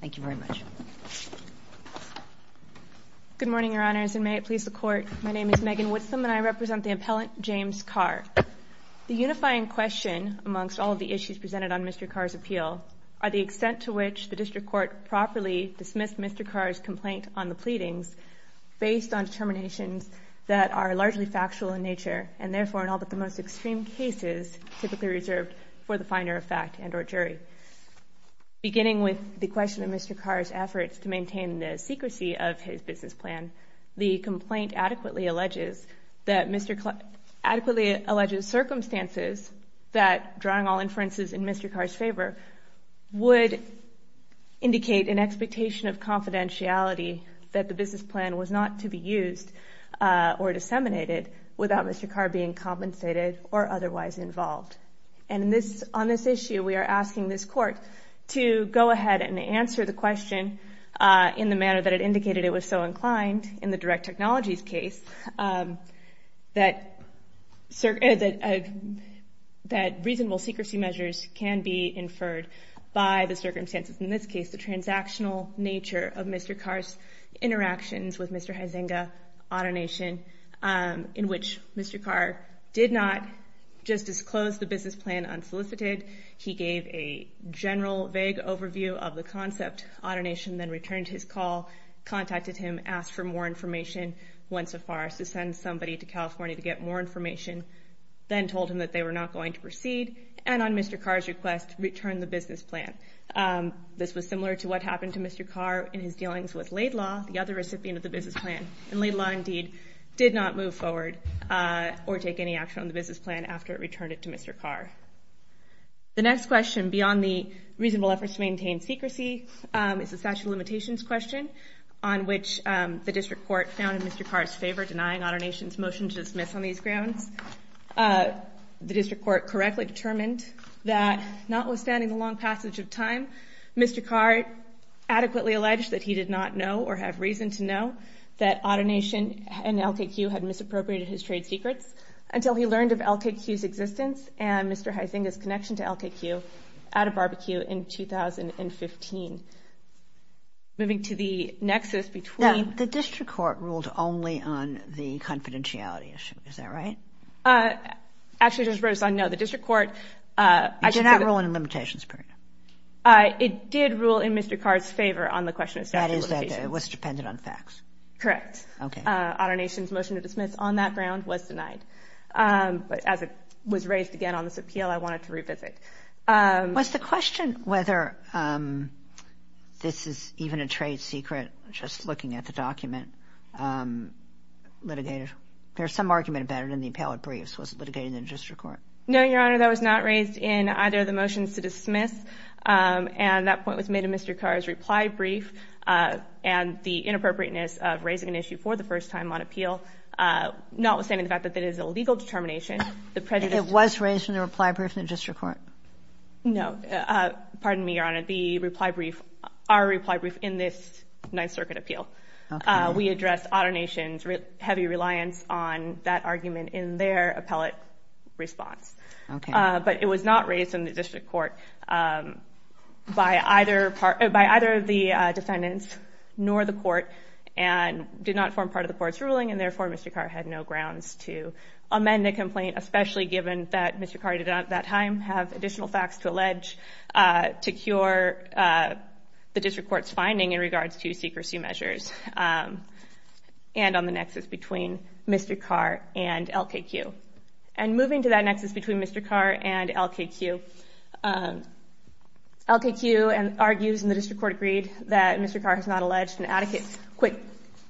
Thank you very much. Good morning, Your Honors, and may it please the Court. My name is Megan Woodson, and I represent the appellant, James Carr. The unifying question amongst all of the issues presented on Mr. Carr's appeal are the extent to which the District Court properly dismissed Mr. Carr's complaint on the pleadings based on determinations that are largely factual in nature and therefore in all but the most extreme cases typically reserved for the finder of fact and or jury. Beginning with the question of Mr. Carr's efforts to maintain the secrecy of his business plan, the complaint adequately alleges circumstances that, drawing all inferences in Mr. Carr's favor, would indicate an expectation of confidentiality that the business plan was not to be used or disseminated without Mr. Carr being compensated or otherwise involved. And on this issue we are asking this Court to go ahead and answer the question in the manner that it indicated it was so inclined in the direct technologies case that reasonable secrecy measures can be inferred by the circumstances, in this case the transactional nature of Mr. Carr's interactions with Mr. Huizenga, Autonation, in which Mr. Carr did not just disclose the business plan unsolicited. He gave a general vague overview of the concept. Autonation then returned his call, contacted him, asked for more information once so far to send somebody to California to get more information, then told him that they were not going to proceed, and on Mr. Carr's request returned the business plan. This was similar to what happened to Mr. Carr in his dealings with Laidlaw, the other recipient of the business plan. And Laidlaw indeed did not move forward or take any action on the business plan after it returned it to Mr. Carr. The next question, beyond the reasonable efforts to maintain secrecy, is the statute of limitations question, on which the District Court found in Mr. Carr's favor denying Autonation's motion to dismiss on these grounds. The District Court correctly determined that notwithstanding the long passage of time, Mr. Carr adequately alleged that he did not know or have reason to know that Autonation and LKQ had misappropriated his trade secrets until he learned of LKQ's existence and Mr. Huizenga's connection to LKQ at a barbecue in 2015. Moving to the nexus between— Now, the District Court ruled only on the confidentiality issue. Is that right? Actually, it just wrote us on no. The District Court— It did not rule in a limitations period. It did rule in Mr. Carr's favor on the question of statute of limitations. That is that it was dependent on facts. Correct. Okay. Autonation's motion to dismiss on that ground was denied. But as it was raised again on this appeal, I wanted to revisit. Was the question whether this is even a trade secret, just looking at the document, litigated? There's some argument about it in the appellate briefs. Was it litigated in the District Court? No, Your Honor. That was not raised in either of the motions to dismiss. And that point was made in Mr. Carr's reply brief. And the inappropriateness of raising an issue for the first time on appeal, notwithstanding the fact that it is a legal determination, the prejudice— It was raised in the reply brief in the District Court. No. Pardon me, Your Honor. The reply brief—our reply brief in this Ninth Circuit appeal. Okay. We addressed Autonation's heavy reliance on that argument in their appellate response. Okay. But it was not raised in the District Court by either of the defendants nor the court and did not form part of the court's ruling. And therefore, Mr. Carr had no grounds to amend the complaint, especially given that Mr. Carr did not at that time have additional facts to allege to cure the District Court's in regards to secrecy measures and on the nexus between Mr. Carr and LKQ. And moving to that nexus between Mr. Carr and LKQ, LKQ argues in the District Court agreed that Mr. Carr has not alleged an adequate quick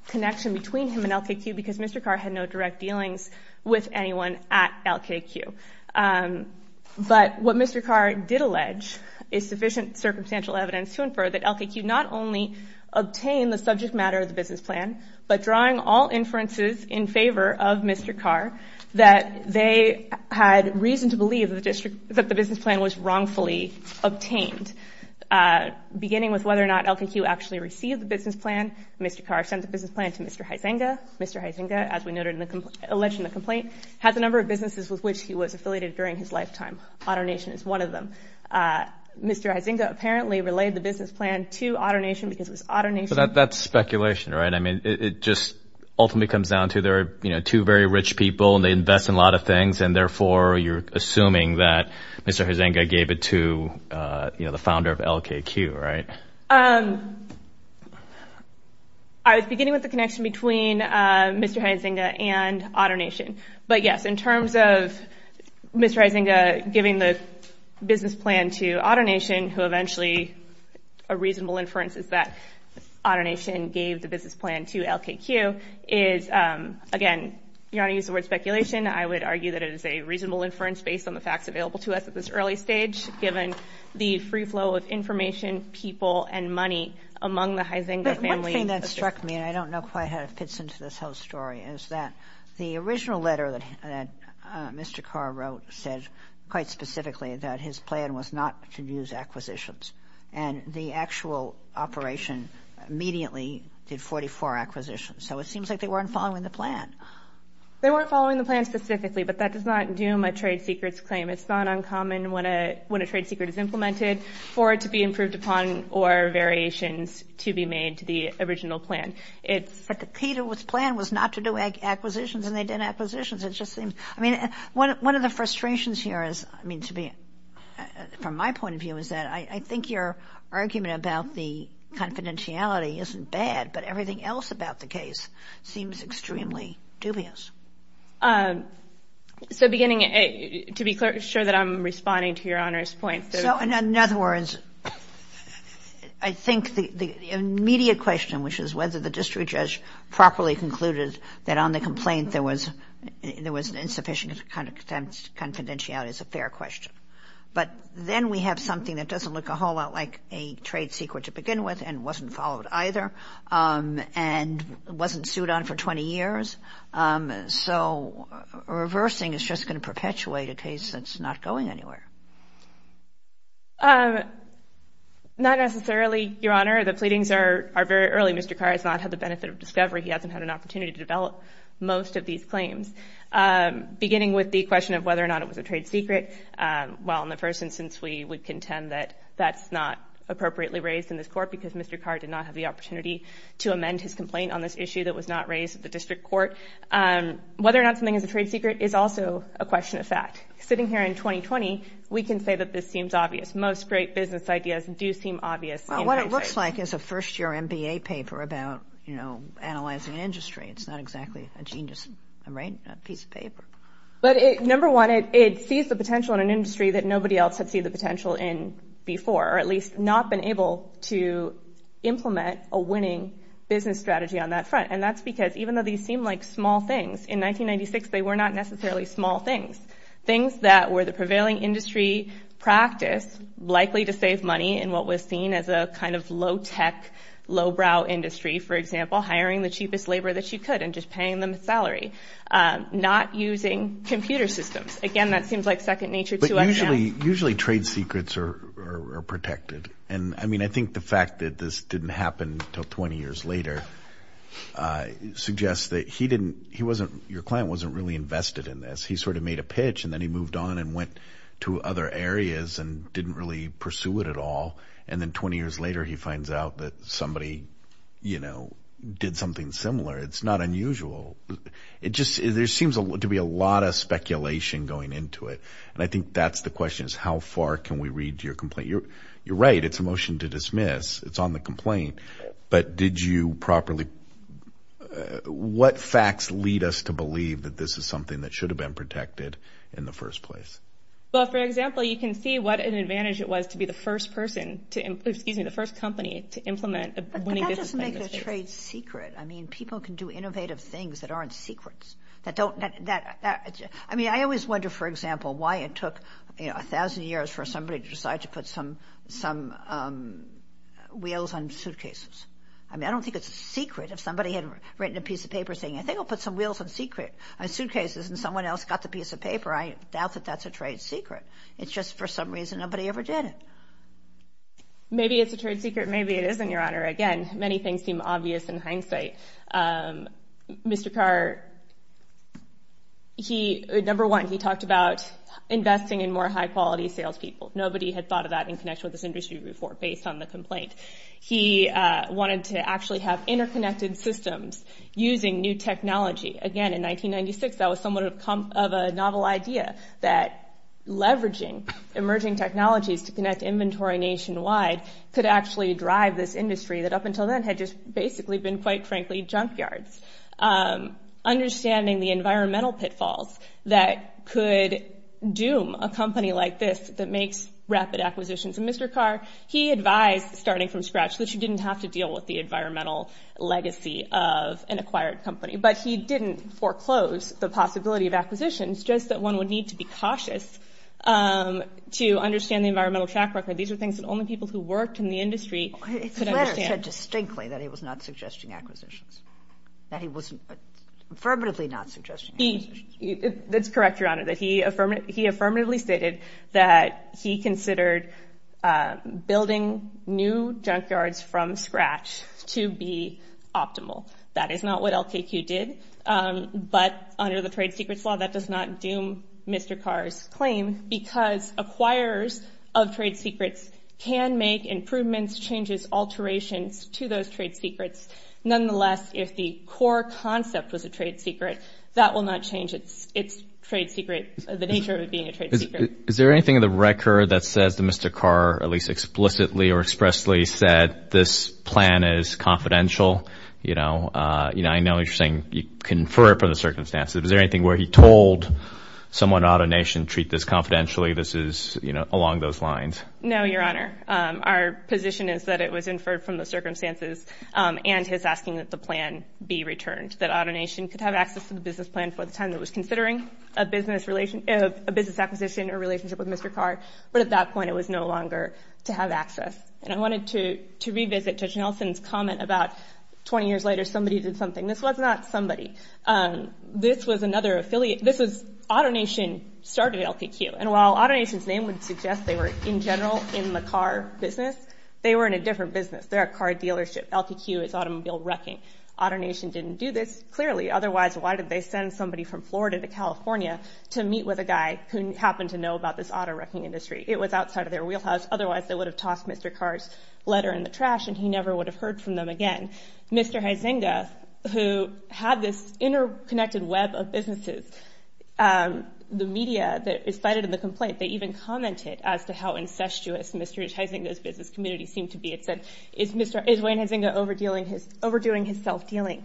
connection between him and LKQ because Mr. Carr had no direct dealings with anyone at LKQ. But what Mr. Carr did allege is sufficient circumstantial evidence to infer that LKQ not only obtained the subject matter of the business plan, but drawing all inferences in favor of Mr. Carr, that they had reason to believe that the business plan was wrongfully obtained. Beginning with whether or not LKQ actually received the business plan, Mr. Carr sent the business plan to Mr. Huizenga. Mr. Huizenga, as we noted in the—alleged in the complaint, had the number of businesses with which he was affiliated during his lifetime. Autonation is one of them. Mr. Huizenga apparently relayed the business plan to Autonation because it was Autonation— But that's speculation, right? I mean, it just ultimately comes down to there are, you know, two very rich people and they invest in a lot of things, and therefore you're assuming that Mr. Huizenga gave it to, you know, the founder of LKQ, right? I was beginning with the connection between Mr. Huizenga and Autonation. But, yes, in terms of Mr. Huizenga giving the business plan to Autonation, who eventually a reasonable inference is that Autonation gave the business plan to LKQ, is, again, you want to use the word speculation, I would argue that it is a reasonable inference based on the facts available to us at this early stage, given the free flow of information, people, and money among the Huizenga family. But one thing that struck me, and I don't know quite how it fits into this whole story, is that the original letter that Mr. Carr wrote said quite specifically that his plan was not to use acquisitions. And the actual operation immediately did 44 acquisitions. So it seems like they weren't following the plan. They weren't following the plan specifically, but that does not doom a trade secrets claim. It's not uncommon when a trade secret is implemented for it to be improved upon or variations to be made to the original plan. But the key to his plan was not to do acquisitions, and they did acquisitions. One of the frustrations here, from my point of view, is that I think your argument about the confidentiality isn't bad, but everything else about the case seems extremely dubious. To be sure that I'm responding to Your Honor's point. So in other words, I think the immediate question, which is whether the district judge properly concluded that on the complaint there was insufficient confidentiality, is a fair question. But then we have something that doesn't look a whole lot like a trade secret to begin with, and wasn't followed either, and wasn't sued on for 20 years. So reversing is just going to perpetuate a case that's not going anywhere. Not necessarily, Your Honor. The pleadings are very early. Mr. Carr has not had the benefit of discovery. He hasn't had an opportunity to develop most of these claims. Beginning with the question of whether or not it was a trade secret, well, in the first instance, we would contend that that's not appropriately raised in this court because Mr. Carr did not have the opportunity to amend his complaint on this issue that was not raised at the district court. Whether or not something is a trade secret is also a question of fact. Sitting here in 2020, we can say that this seems obvious. Most great business ideas do seem obvious. Well, what it looks like is a first-year MBA paper about, you know, analyzing industry. It's not exactly a genius piece of paper. But number one, it sees the potential in an industry that nobody else had seen the potential in before, or at least not been able to implement a winning business strategy on that front. And that's because even though these seem like small things, in 1996, they were not necessarily small things, things that were the prevailing industry practice likely to save money in what was seen as a kind of low-tech, lowbrow industry, for example, hiring the cheapest labor that you could and just paying them a salary, not using computer systems. Again, that seems like second nature to us now. Usually trade secrets are protected. And, I mean, I think the fact that this didn't happen until 20 years later suggests that he didn't – he wasn't – your client wasn't really invested in this. He sort of made a pitch and then he moved on and went to other areas and didn't really pursue it at all. And then 20 years later, he finds out that somebody, you know, did something similar. It's not unusual. It just – there seems to be a lot of speculation going into it. And I think that's the question is how far can we read your complaint. You're right. It's a motion to dismiss. It's on the complaint. But did you properly – what facts lead us to believe that this is something that should have been protected in the first place? Well, for example, you can see what an advantage it was to be the first person to – excuse me, the first company to implement a winning business plan. But that doesn't make the trade secret. I mean, people can do innovative things that aren't secrets, that don't – I mean, I always wonder, for example, why it took, you know, a thousand years for somebody to decide to put some wheels on suitcases. I mean, I don't think it's a secret. If somebody had written a piece of paper saying, I think I'll put some wheels on suitcases and someone else got the piece of paper, I doubt that that's a trade secret. It's just for some reason nobody ever did it. Maybe it's a trade secret. Maybe it isn't, Your Honor. Again, many things seem obvious in hindsight. Mr. Carr, he – number one, he talked about investing in more high-quality salespeople. Nobody had thought of that in connection with this industry before, based on the complaint. He wanted to actually have interconnected systems using new technology. Again, in 1996, that was somewhat of a novel idea, that leveraging emerging technologies to connect inventory nationwide could actually drive this industry that, up until then, had just basically been, quite frankly, junkyards. Understanding the environmental pitfalls that could doom a company like this that makes rapid acquisitions. And Mr. Carr, he advised, starting from scratch, that you didn't have to deal with the environmental legacy of an acquired company. But he didn't foreclose the possibility of acquisitions, just that one would need to be cautious to understand the environmental track record. These are things that only people who worked in the industry could understand. He said distinctly that he was not suggesting acquisitions, that he was affirmatively not suggesting acquisitions. That's correct, Your Honor, that he affirmatively stated that he considered building new junkyards from scratch to be optimal. That is not what LKQ did. But under the trade secrets law, that does not doom Mr. Carr's claim because acquirers of trade secrets can make improvements, changes, alterations to those trade secrets. Nonetheless, if the core concept was a trade secret, that will not change its trade secret, the nature of it being a trade secret. Is there anything in the record that says that Mr. Carr, at least explicitly or expressly, said this plan is confidential? I know you're saying you confer it from the circumstances. Is there anything where he told someone at AutoNation, treat this confidentially, this is along those lines? No, Your Honor. Our position is that it was inferred from the circumstances and his asking that the plan be returned, that AutoNation could have access to the business plan for the time it was considering, a business acquisition or relationship with Mr. Carr, but at that point it was no longer to have access. And I wanted to revisit Judge Nelson's comment about 20 years later somebody did something. This was not somebody. This was another affiliate. This was AutoNation started LPQ. And while AutoNation's name would suggest they were in general in the car business, they were in a different business. They're a car dealership. LPQ is automobile wrecking. AutoNation didn't do this, clearly. Otherwise, why did they send somebody from Florida to California to meet with a guy who happened to know about this auto wrecking industry? It was outside of their wheelhouse. Otherwise, they would have tossed Mr. Carr's letter in the trash and he never would have heard from them again. And Mr. Huizenga, who had this interconnected web of businesses, the media that is cited in the complaint, they even commented as to how incestuous Mr. Huizenga's business community seemed to be. It said, is Wayne Huizenga overdoing his self-dealing?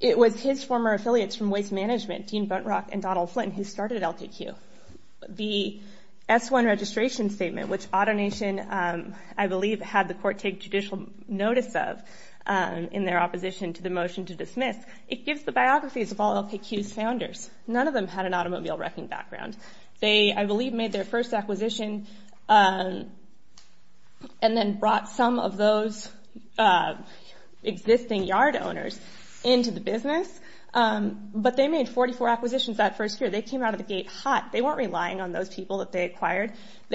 It was his former affiliates from waste management, Dean Buntrock and Donald Flynn, who started LPQ. The S-1 registration statement, which AutoNation, I believe, had the court take judicial notice of in their opposition to the motion to dismiss, it gives the biographies of all LPQ's founders. None of them had an automobile wrecking background. They, I believe, made their first acquisition and then brought some of those existing yard owners into the business. But they made 44 acquisitions that first year. They came out of the gate hot. They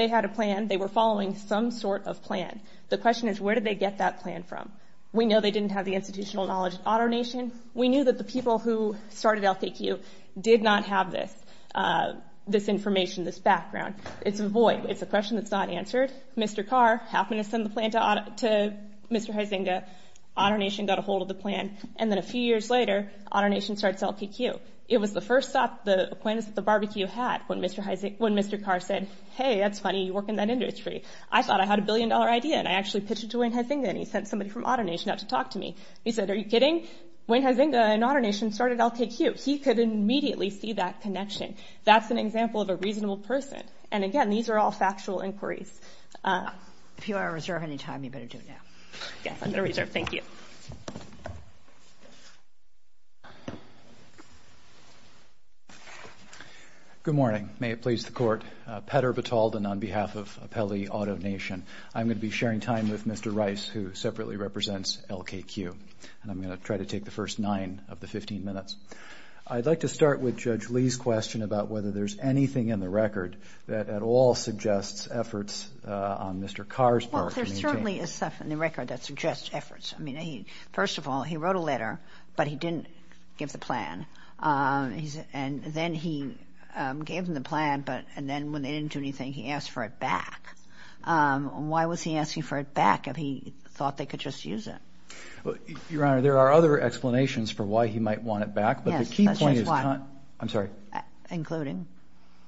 had a plan. They were following some sort of plan. The question is, where did they get that plan from? We know they didn't have the institutional knowledge at AutoNation. We knew that the people who started LPQ did not have this information, this background. It's a question that's not answered. Mr. Carr happened to send the plan to Mr. Huizenga. AutoNation got a hold of the plan. And then a few years later, AutoNation starts LPQ. It was the first stop, the acquaintance that the barbecue had, when Mr. Carr said, hey, that's funny. You work in that industry. I thought I had a billion-dollar idea, and I actually pitched it to Wayne Huizenga, and he sent somebody from AutoNation out to talk to me. He said, are you kidding? Wayne Huizenga and AutoNation started LPQ. He could immediately see that connection. That's an example of a reasonable person. And, again, these are all factual inquiries. If you want to reserve any time, you better do it now. Yes, I'm going to reserve. Thank you. Good morning. May it please the Court. Petter Batalden on behalf of Appellee AutoNation. I'm going to be sharing time with Mr. Rice, who separately represents LKQ. And I'm going to try to take the first nine of the 15 minutes. I'd like to start with Judge Lee's question about whether there's anything in the record that at all suggests efforts on Mr. Carr's part. Well, there certainly is stuff in the record that suggests efforts. I mean, first of all, he wrote a letter, but he didn't give the plan. And then he gave him the plan, and then when they didn't do anything, he asked for it back. Why was he asking for it back if he thought they could just use it? Your Honor, there are other explanations for why he might want it back. Yes, that's just one. I'm sorry. Including?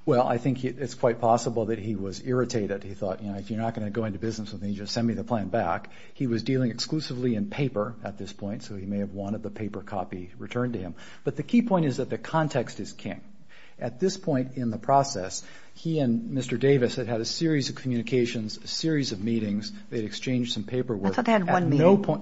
Well, I think it's quite possible that he was irritated. He thought, you know, if you're not going to go into business with me, just send me the plan back. He was dealing exclusively in paper at this point, so he may have wanted the paper copy returned to him. But the key point is that the context is king. At this point in the process, he and Mr. Davis had had a series of communications, a series of meetings. They had exchanged some paperwork. I thought they had one meeting. At no point.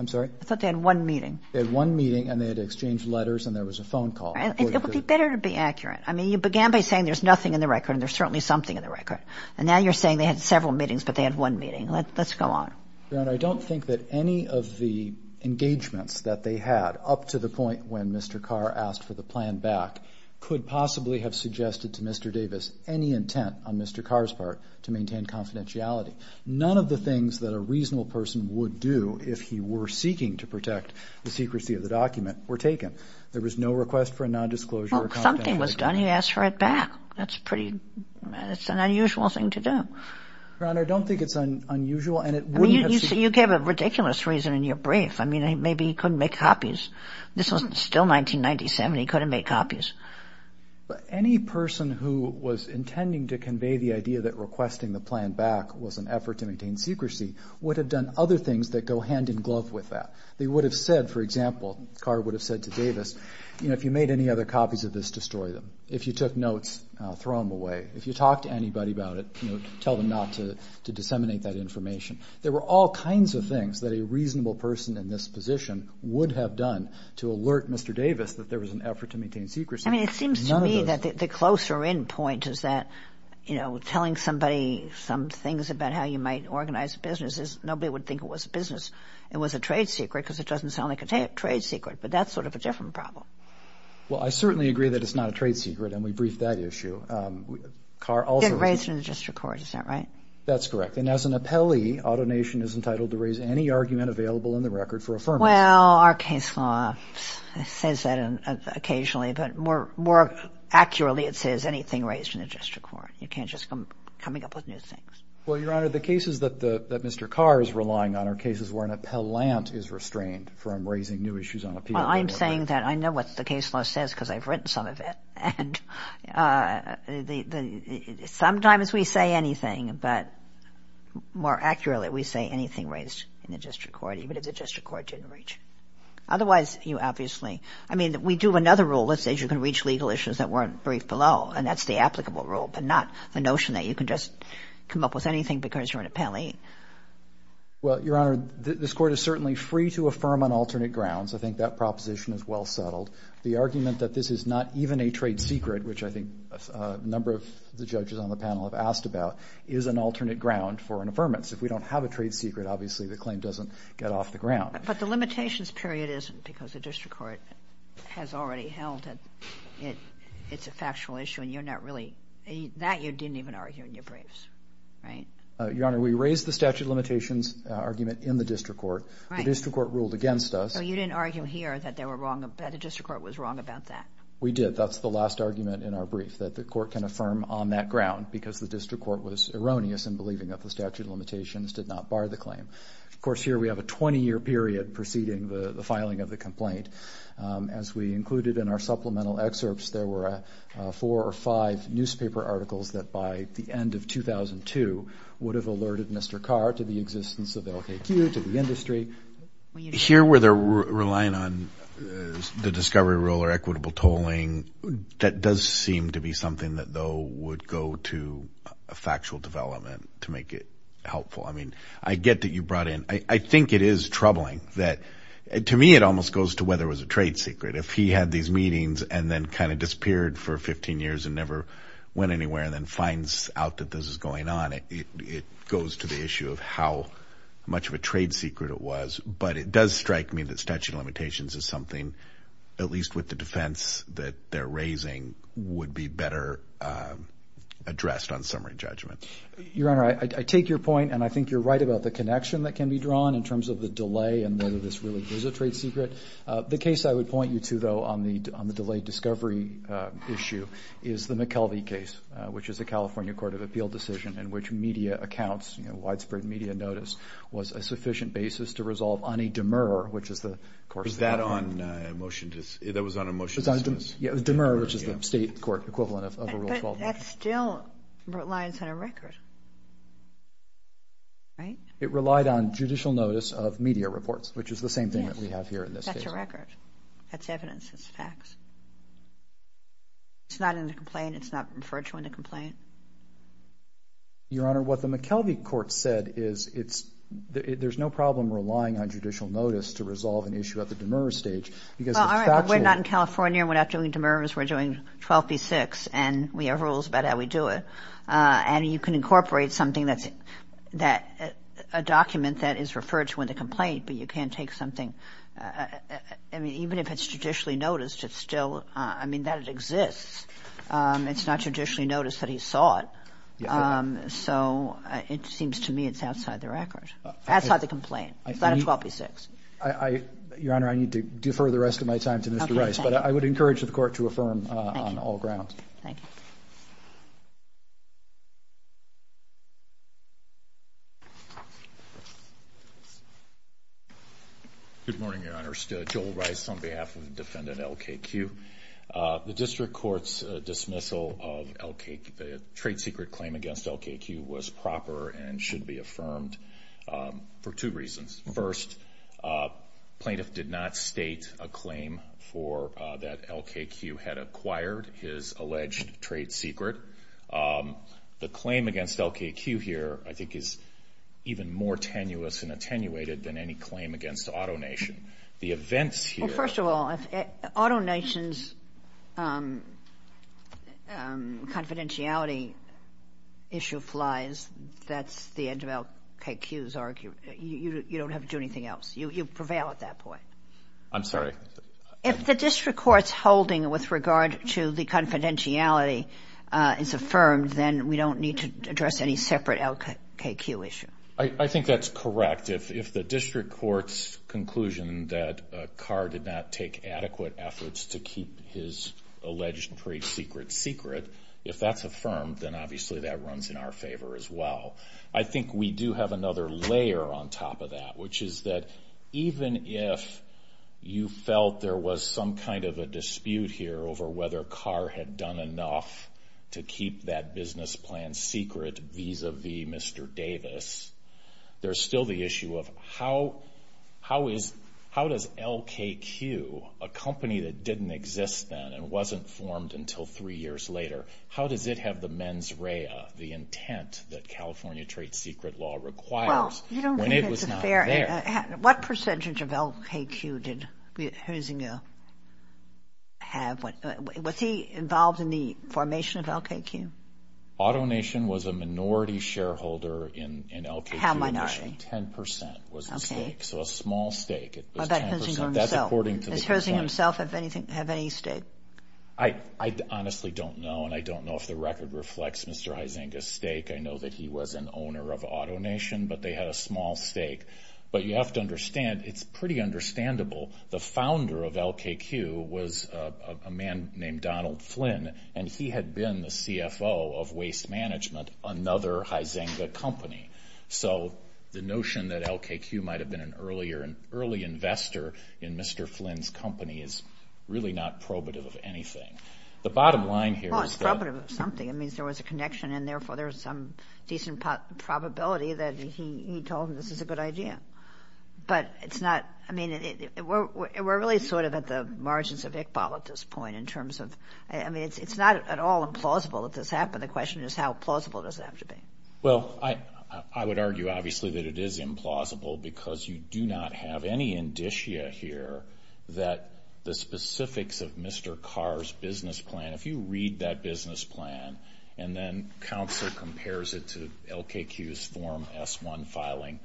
I'm sorry? I thought they had one meeting. They had one meeting, and they had exchanged letters, and there was a phone call. It would be better to be accurate. I mean, you began by saying there's nothing in the record, and there's certainly something in the record. And now you're saying they had several meetings, but they had one meeting. Let's go on. Your Honor, I don't think that any of the engagements that they had up to the point when Mr. Carr asked for the plan back could possibly have suggested to Mr. Davis any intent on Mr. Carr's part to maintain confidentiality. None of the things that a reasonable person would do if he were seeking to protect the secrecy of the document were taken. There was no request for a nondisclosure or confidentiality. Well, something was done. He asked for it back. That's pretty – that's an unusual thing to do. Your Honor, I don't think it's unusual, and it wouldn't have – You gave a ridiculous reason in your brief. I mean, maybe he couldn't make copies. This was still 1997. He couldn't make copies. Any person who was intending to convey the idea that requesting the plan back was an effort to maintain secrecy would have done other things that go hand in glove with that. They would have said, for example, Carr would have said to Davis, you know, if you made any other copies of this, destroy them. If you took notes, throw them away. If you talked to anybody about it, you know, tell them not to disseminate that information. There were all kinds of things that a reasonable person in this position would have done to alert Mr. Davis that there was an effort to maintain secrecy. I mean, it seems to me that the closer-in point is that, you know, telling somebody some things about how you might organize businesses, nobody would think it was business. It was a trade secret because it doesn't sound like a trade secret. But that's sort of a different problem. Well, I certainly agree that it's not a trade secret, and we briefed that issue. Didn't raise it in the district court, is that right? That's correct. And as an appellee, AutoNation is entitled to raise any argument available in the record for affirmation. Well, our case law says that occasionally. But more accurately, it says anything raised in the district court. You can't just come up with new things. Well, Your Honor, the cases that Mr. Carr is relying on are cases where an appellant is restrained from raising new issues on appeal. Well, I'm saying that I know what the case law says because I've written some of it. And sometimes we say anything, but more accurately, we say anything raised in the district court, even if the district court didn't reach. Otherwise, you obviously ‑‑ I mean, we do another rule that says you can reach legal issues that weren't briefed below, and that's the applicable rule, but not the notion that you can just come up with anything because you're an appellee. Well, Your Honor, this Court is certainly free to affirm on alternate grounds. I think that proposition is well settled. The argument that this is not even a trade secret, which I think a number of the judges on the panel have asked about, is an alternate ground for an affirmance. If we don't have a trade secret, obviously the claim doesn't get off the ground. But the limitations period isn't because the district court has already held that it's a factual issue, and you're not really ‑‑ that you didn't even argue in your briefs, right? Your Honor, we raised the statute of limitations argument in the district court. Right. The district court ruled against us. So you didn't argue here that the district court was wrong about that? We did. That's the last argument in our brief, that the court can affirm on that ground because the district court was erroneous in believing that the statute of limitations did not bar the claim. Of course, here we have a 20‑year period preceding the filing of the complaint. As we included in our supplemental excerpts, there were four or five newspaper articles that by the end of 2002 would have alerted Mr. Carr to the existence of LKQ, to the industry. Here where they're relying on the discovery rule or equitable tolling, that does seem to be something that, though, would go to a factual development to make it helpful. I mean, I get that you brought in ‑‑ I think it is troubling that, to me, it almost goes to whether it was a trade secret. If he had these meetings and then kind of disappeared for 15 years and never went anywhere and then finds out that this is going on, it goes to the issue of how much of a trade secret it was. But it does strike me that statute of limitations is something, at least with the defense that they're raising, would be better addressed on summary judgment. Your Honor, I take your point, and I think you're right about the connection that can be drawn in terms of the delay and whether this really is a trade secret. The case I would point you to, though, on the delayed discovery issue is the McKelvey case, which is a California court of appeal decision in which media accounts, widespread media notice, was a sufficient basis to resolve on a demur, which is the ‑‑ Was that on a motion to ‑‑ that was on a motion to dismiss? Yeah, demur, which is the state court equivalent of a Rule 12 motion. But that still relies on a record, right? It relied on judicial notice of media reports, which is the same thing that we have here in this case. Yes, that's a record. That's evidence. It's facts. It's not in the complaint. It's not referred to in the complaint. Your Honor, what the McKelvey court said is it's ‑‑ there's no problem relying on judicial notice to resolve an issue at the demur stage because the statute ‑‑ and you can incorporate something that's ‑‑ a document that is referred to in the complaint, but you can't take something ‑‑ I mean, even if it's judicially noticed, it's still ‑‑ I mean, that it exists. It's not judicially noticed that he saw it. So it seems to me it's outside the record. Outside the complaint. It's not a 12B6. Your Honor, I need to defer the rest of my time to Mr. Rice. But I would encourage the court to affirm on all grounds. Thank you. Good morning, Your Honor. Joel Rice on behalf of defendant LKQ. The district court's dismissal of LKQ, the trade secret claim against LKQ, was proper and should be affirmed for two reasons. First, plaintiff did not state a claim for that LKQ had acquired his alleged trade secret. The claim against LKQ here I think is even more tenuous and attenuated than any claim against AutoNation. The events here ‑‑ Well, first of all, AutoNation's confidentiality issue flies. That's the edge of LKQ's argument. You don't have to do anything else. You prevail at that point. I'm sorry. If the district court's holding with regard to the confidentiality is affirmed, then we don't need to address any separate LKQ issue. I think that's correct. If the district court's conclusion that Carr did not take adequate efforts to keep his alleged trade secret secret, if that's affirmed, then obviously that runs in our favor as well. I think we do have another layer on top of that, which is that even if you felt there was some kind of a dispute here over whether Carr had done enough to keep that business plan secret vis‑a‑vis Mr. Davis, there's still the issue of how does LKQ, a company that didn't exist then and wasn't formed until three years later, how does it have the mens rea, the intent that California trade secret law requires, when it was not there? What percentage of LKQ did Herzinga have? Was he involved in the formation of LKQ? AutoNation was a minority shareholder in LKQ. How minority? Ten percent was at stake, so a small stake. Well, that depends on himself. Does Herzinga himself have any stake? I honestly don't know, and I don't know if the record reflects Mr. Herzinga's stake. I know that he was an owner of AutoNation, but they had a small stake. But you have to understand, it's pretty understandable, the founder of LKQ was a man named Donald Flynn, and he had been the CFO of Waste Management, another Herzinga company. So the notion that LKQ might have been an early investor in Mr. Flynn's company is really not probative of anything. The bottom line here is that. Well, it's probative of something. It means there was a connection, and therefore there's some decent probability that he told him this is a good idea. But it's not. I mean, we're really sort of at the margins of Iqbal at this point in terms of... I mean, it's not at all implausible that this happened. The question is how plausible does it have to be. Well, I would argue, obviously, that it is implausible because you do not have any indicia here that the specifics of Mr. Carr's business plan. If you read that business plan and then counsel compares it to LKQ's Form S-1 filing,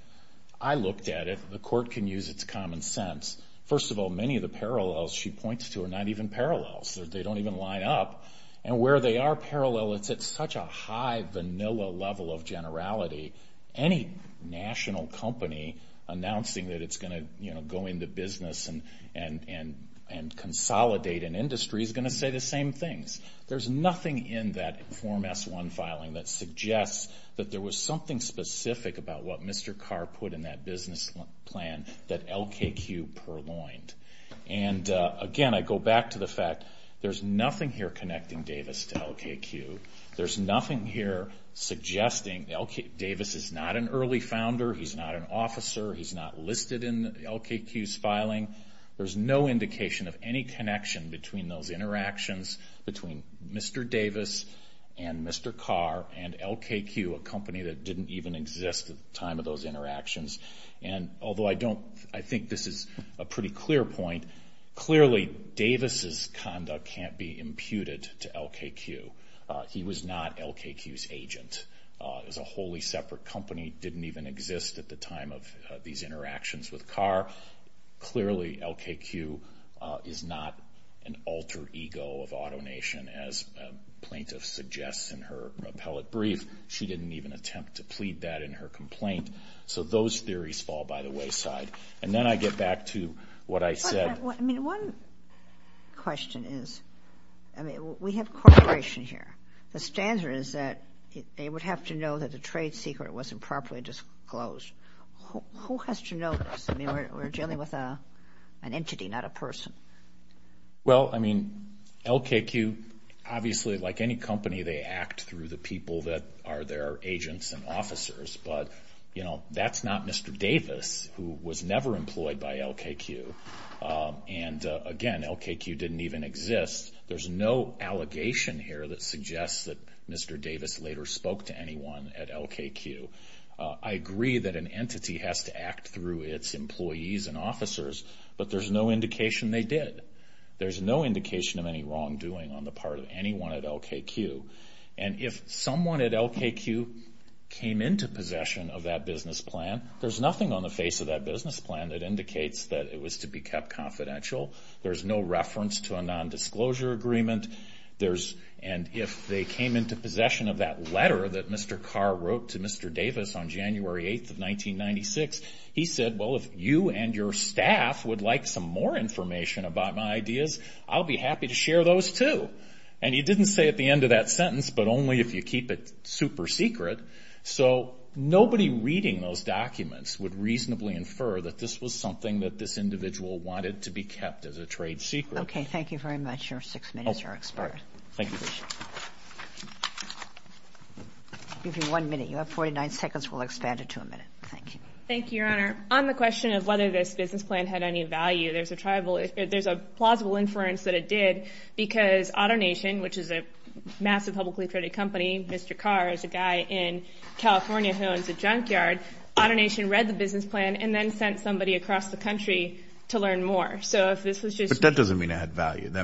I looked at it, the court can use its common sense. First of all, many of the parallels she points to are not even parallels. They don't even line up. And where they are parallel, it's at such a high vanilla level of generality. Any national company announcing that it's going to go into business and consolidate an industry is going to say the same things. There's nothing in that Form S-1 filing that suggests that there was something specific about what Mr. Carr put in that business plan that LKQ purloined. And again, I go back to the fact there's nothing here connecting Davis to LKQ. There's nothing here suggesting Davis is not an early founder, he's not an officer, he's not listed in LKQ's filing. There's no indication of any connection between those interactions, between Mr. Davis and Mr. Carr and LKQ, a company that didn't even exist at the time of those interactions. And although I think this is a pretty clear point, clearly Davis's conduct can't be imputed to LKQ. He was not LKQ's agent. It was a wholly separate company, didn't even exist at the time of these interactions with Carr. Clearly LKQ is not an alter ego of AutoNation, as plaintiff suggests in her appellate brief. She didn't even attempt to plead that in her complaint. So those theories fall by the wayside. And then I get back to what I said. One question is, we have cooperation here. The standard is that they would have to know that a trade secret wasn't properly disclosed. Who has to know this? I mean, we're dealing with an entity, not a person. Well, I mean, LKQ, obviously like any company, they act through the people that are their agents and officers. But, you know, that's not Mr. Davis, who was never employed by LKQ. And again, LKQ didn't even exist. There's no allegation here that suggests that Mr. Davis later spoke to anyone at LKQ. I agree that an entity has to act through its employees and officers, but there's no indication they did. There's no indication of any wrongdoing on the part of anyone at LKQ. And if someone at LKQ came into possession of that business plan, there's nothing on the face of that business plan that indicates that it was to be kept confidential. There's no reference to a nondisclosure agreement. And if they came into possession of that letter that Mr. Carr wrote to Mr. Davis on January 8th of 1996, he said, well, if you and your staff would like some more information about my ideas, I'll be happy to share those too. And he didn't say at the end of that sentence, but only if you keep it super secret. So nobody reading those documents would reasonably infer that this was something that this individual wanted to be kept as a trade secret. Okay, thank you very much. Your six minutes are expired. Thank you. I'll give you one minute. You have 49 seconds. We'll expand it to a minute. Thank you. Thank you, Your Honor. On the question of whether this business plan had any value, there's a plausible inference that it did because AutoNation, which is a massive publicly traded company, Mr. Carr is a guy in California who owns a junkyard. AutoNation read the business plan and then sent somebody across the country to learn more. But that doesn't mean it had value. I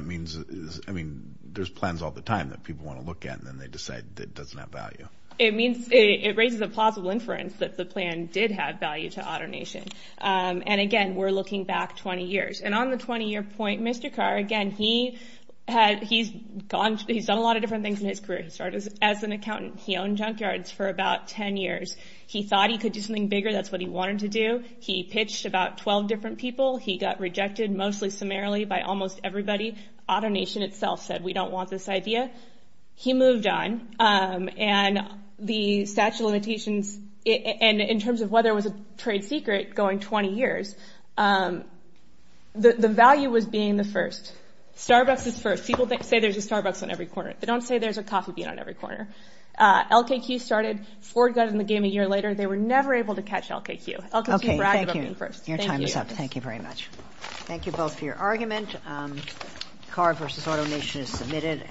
mean, there's plans all the time that people want to look at, and then they decide it doesn't have value. It means it raises a plausible inference that the plan did have value to AutoNation. And, again, we're looking back 20 years. And on the 20-year point, Mr. Carr, again, he's done a lot of different things in his career. He started as an accountant. He owned junkyards for about 10 years. He thought he could do something bigger. That's what he wanted to do. He pitched about 12 different people. He got rejected mostly summarily by almost everybody. AutoNation itself said, we don't want this idea. He moved on. And the statute of limitations, and in terms of whether it was a trade secret going 20 years, the value was being the first. Starbucks is first. People say there's a Starbucks on every corner. They don't say there's a coffee bean on every corner. LKQ started. Ford got in the game a year later. They were never able to catch LKQ. LKQ bragged about being first. Thank you. Your time is up. Thank you very much. Thank you both for your argument. Carr v. AutoNation is submitted.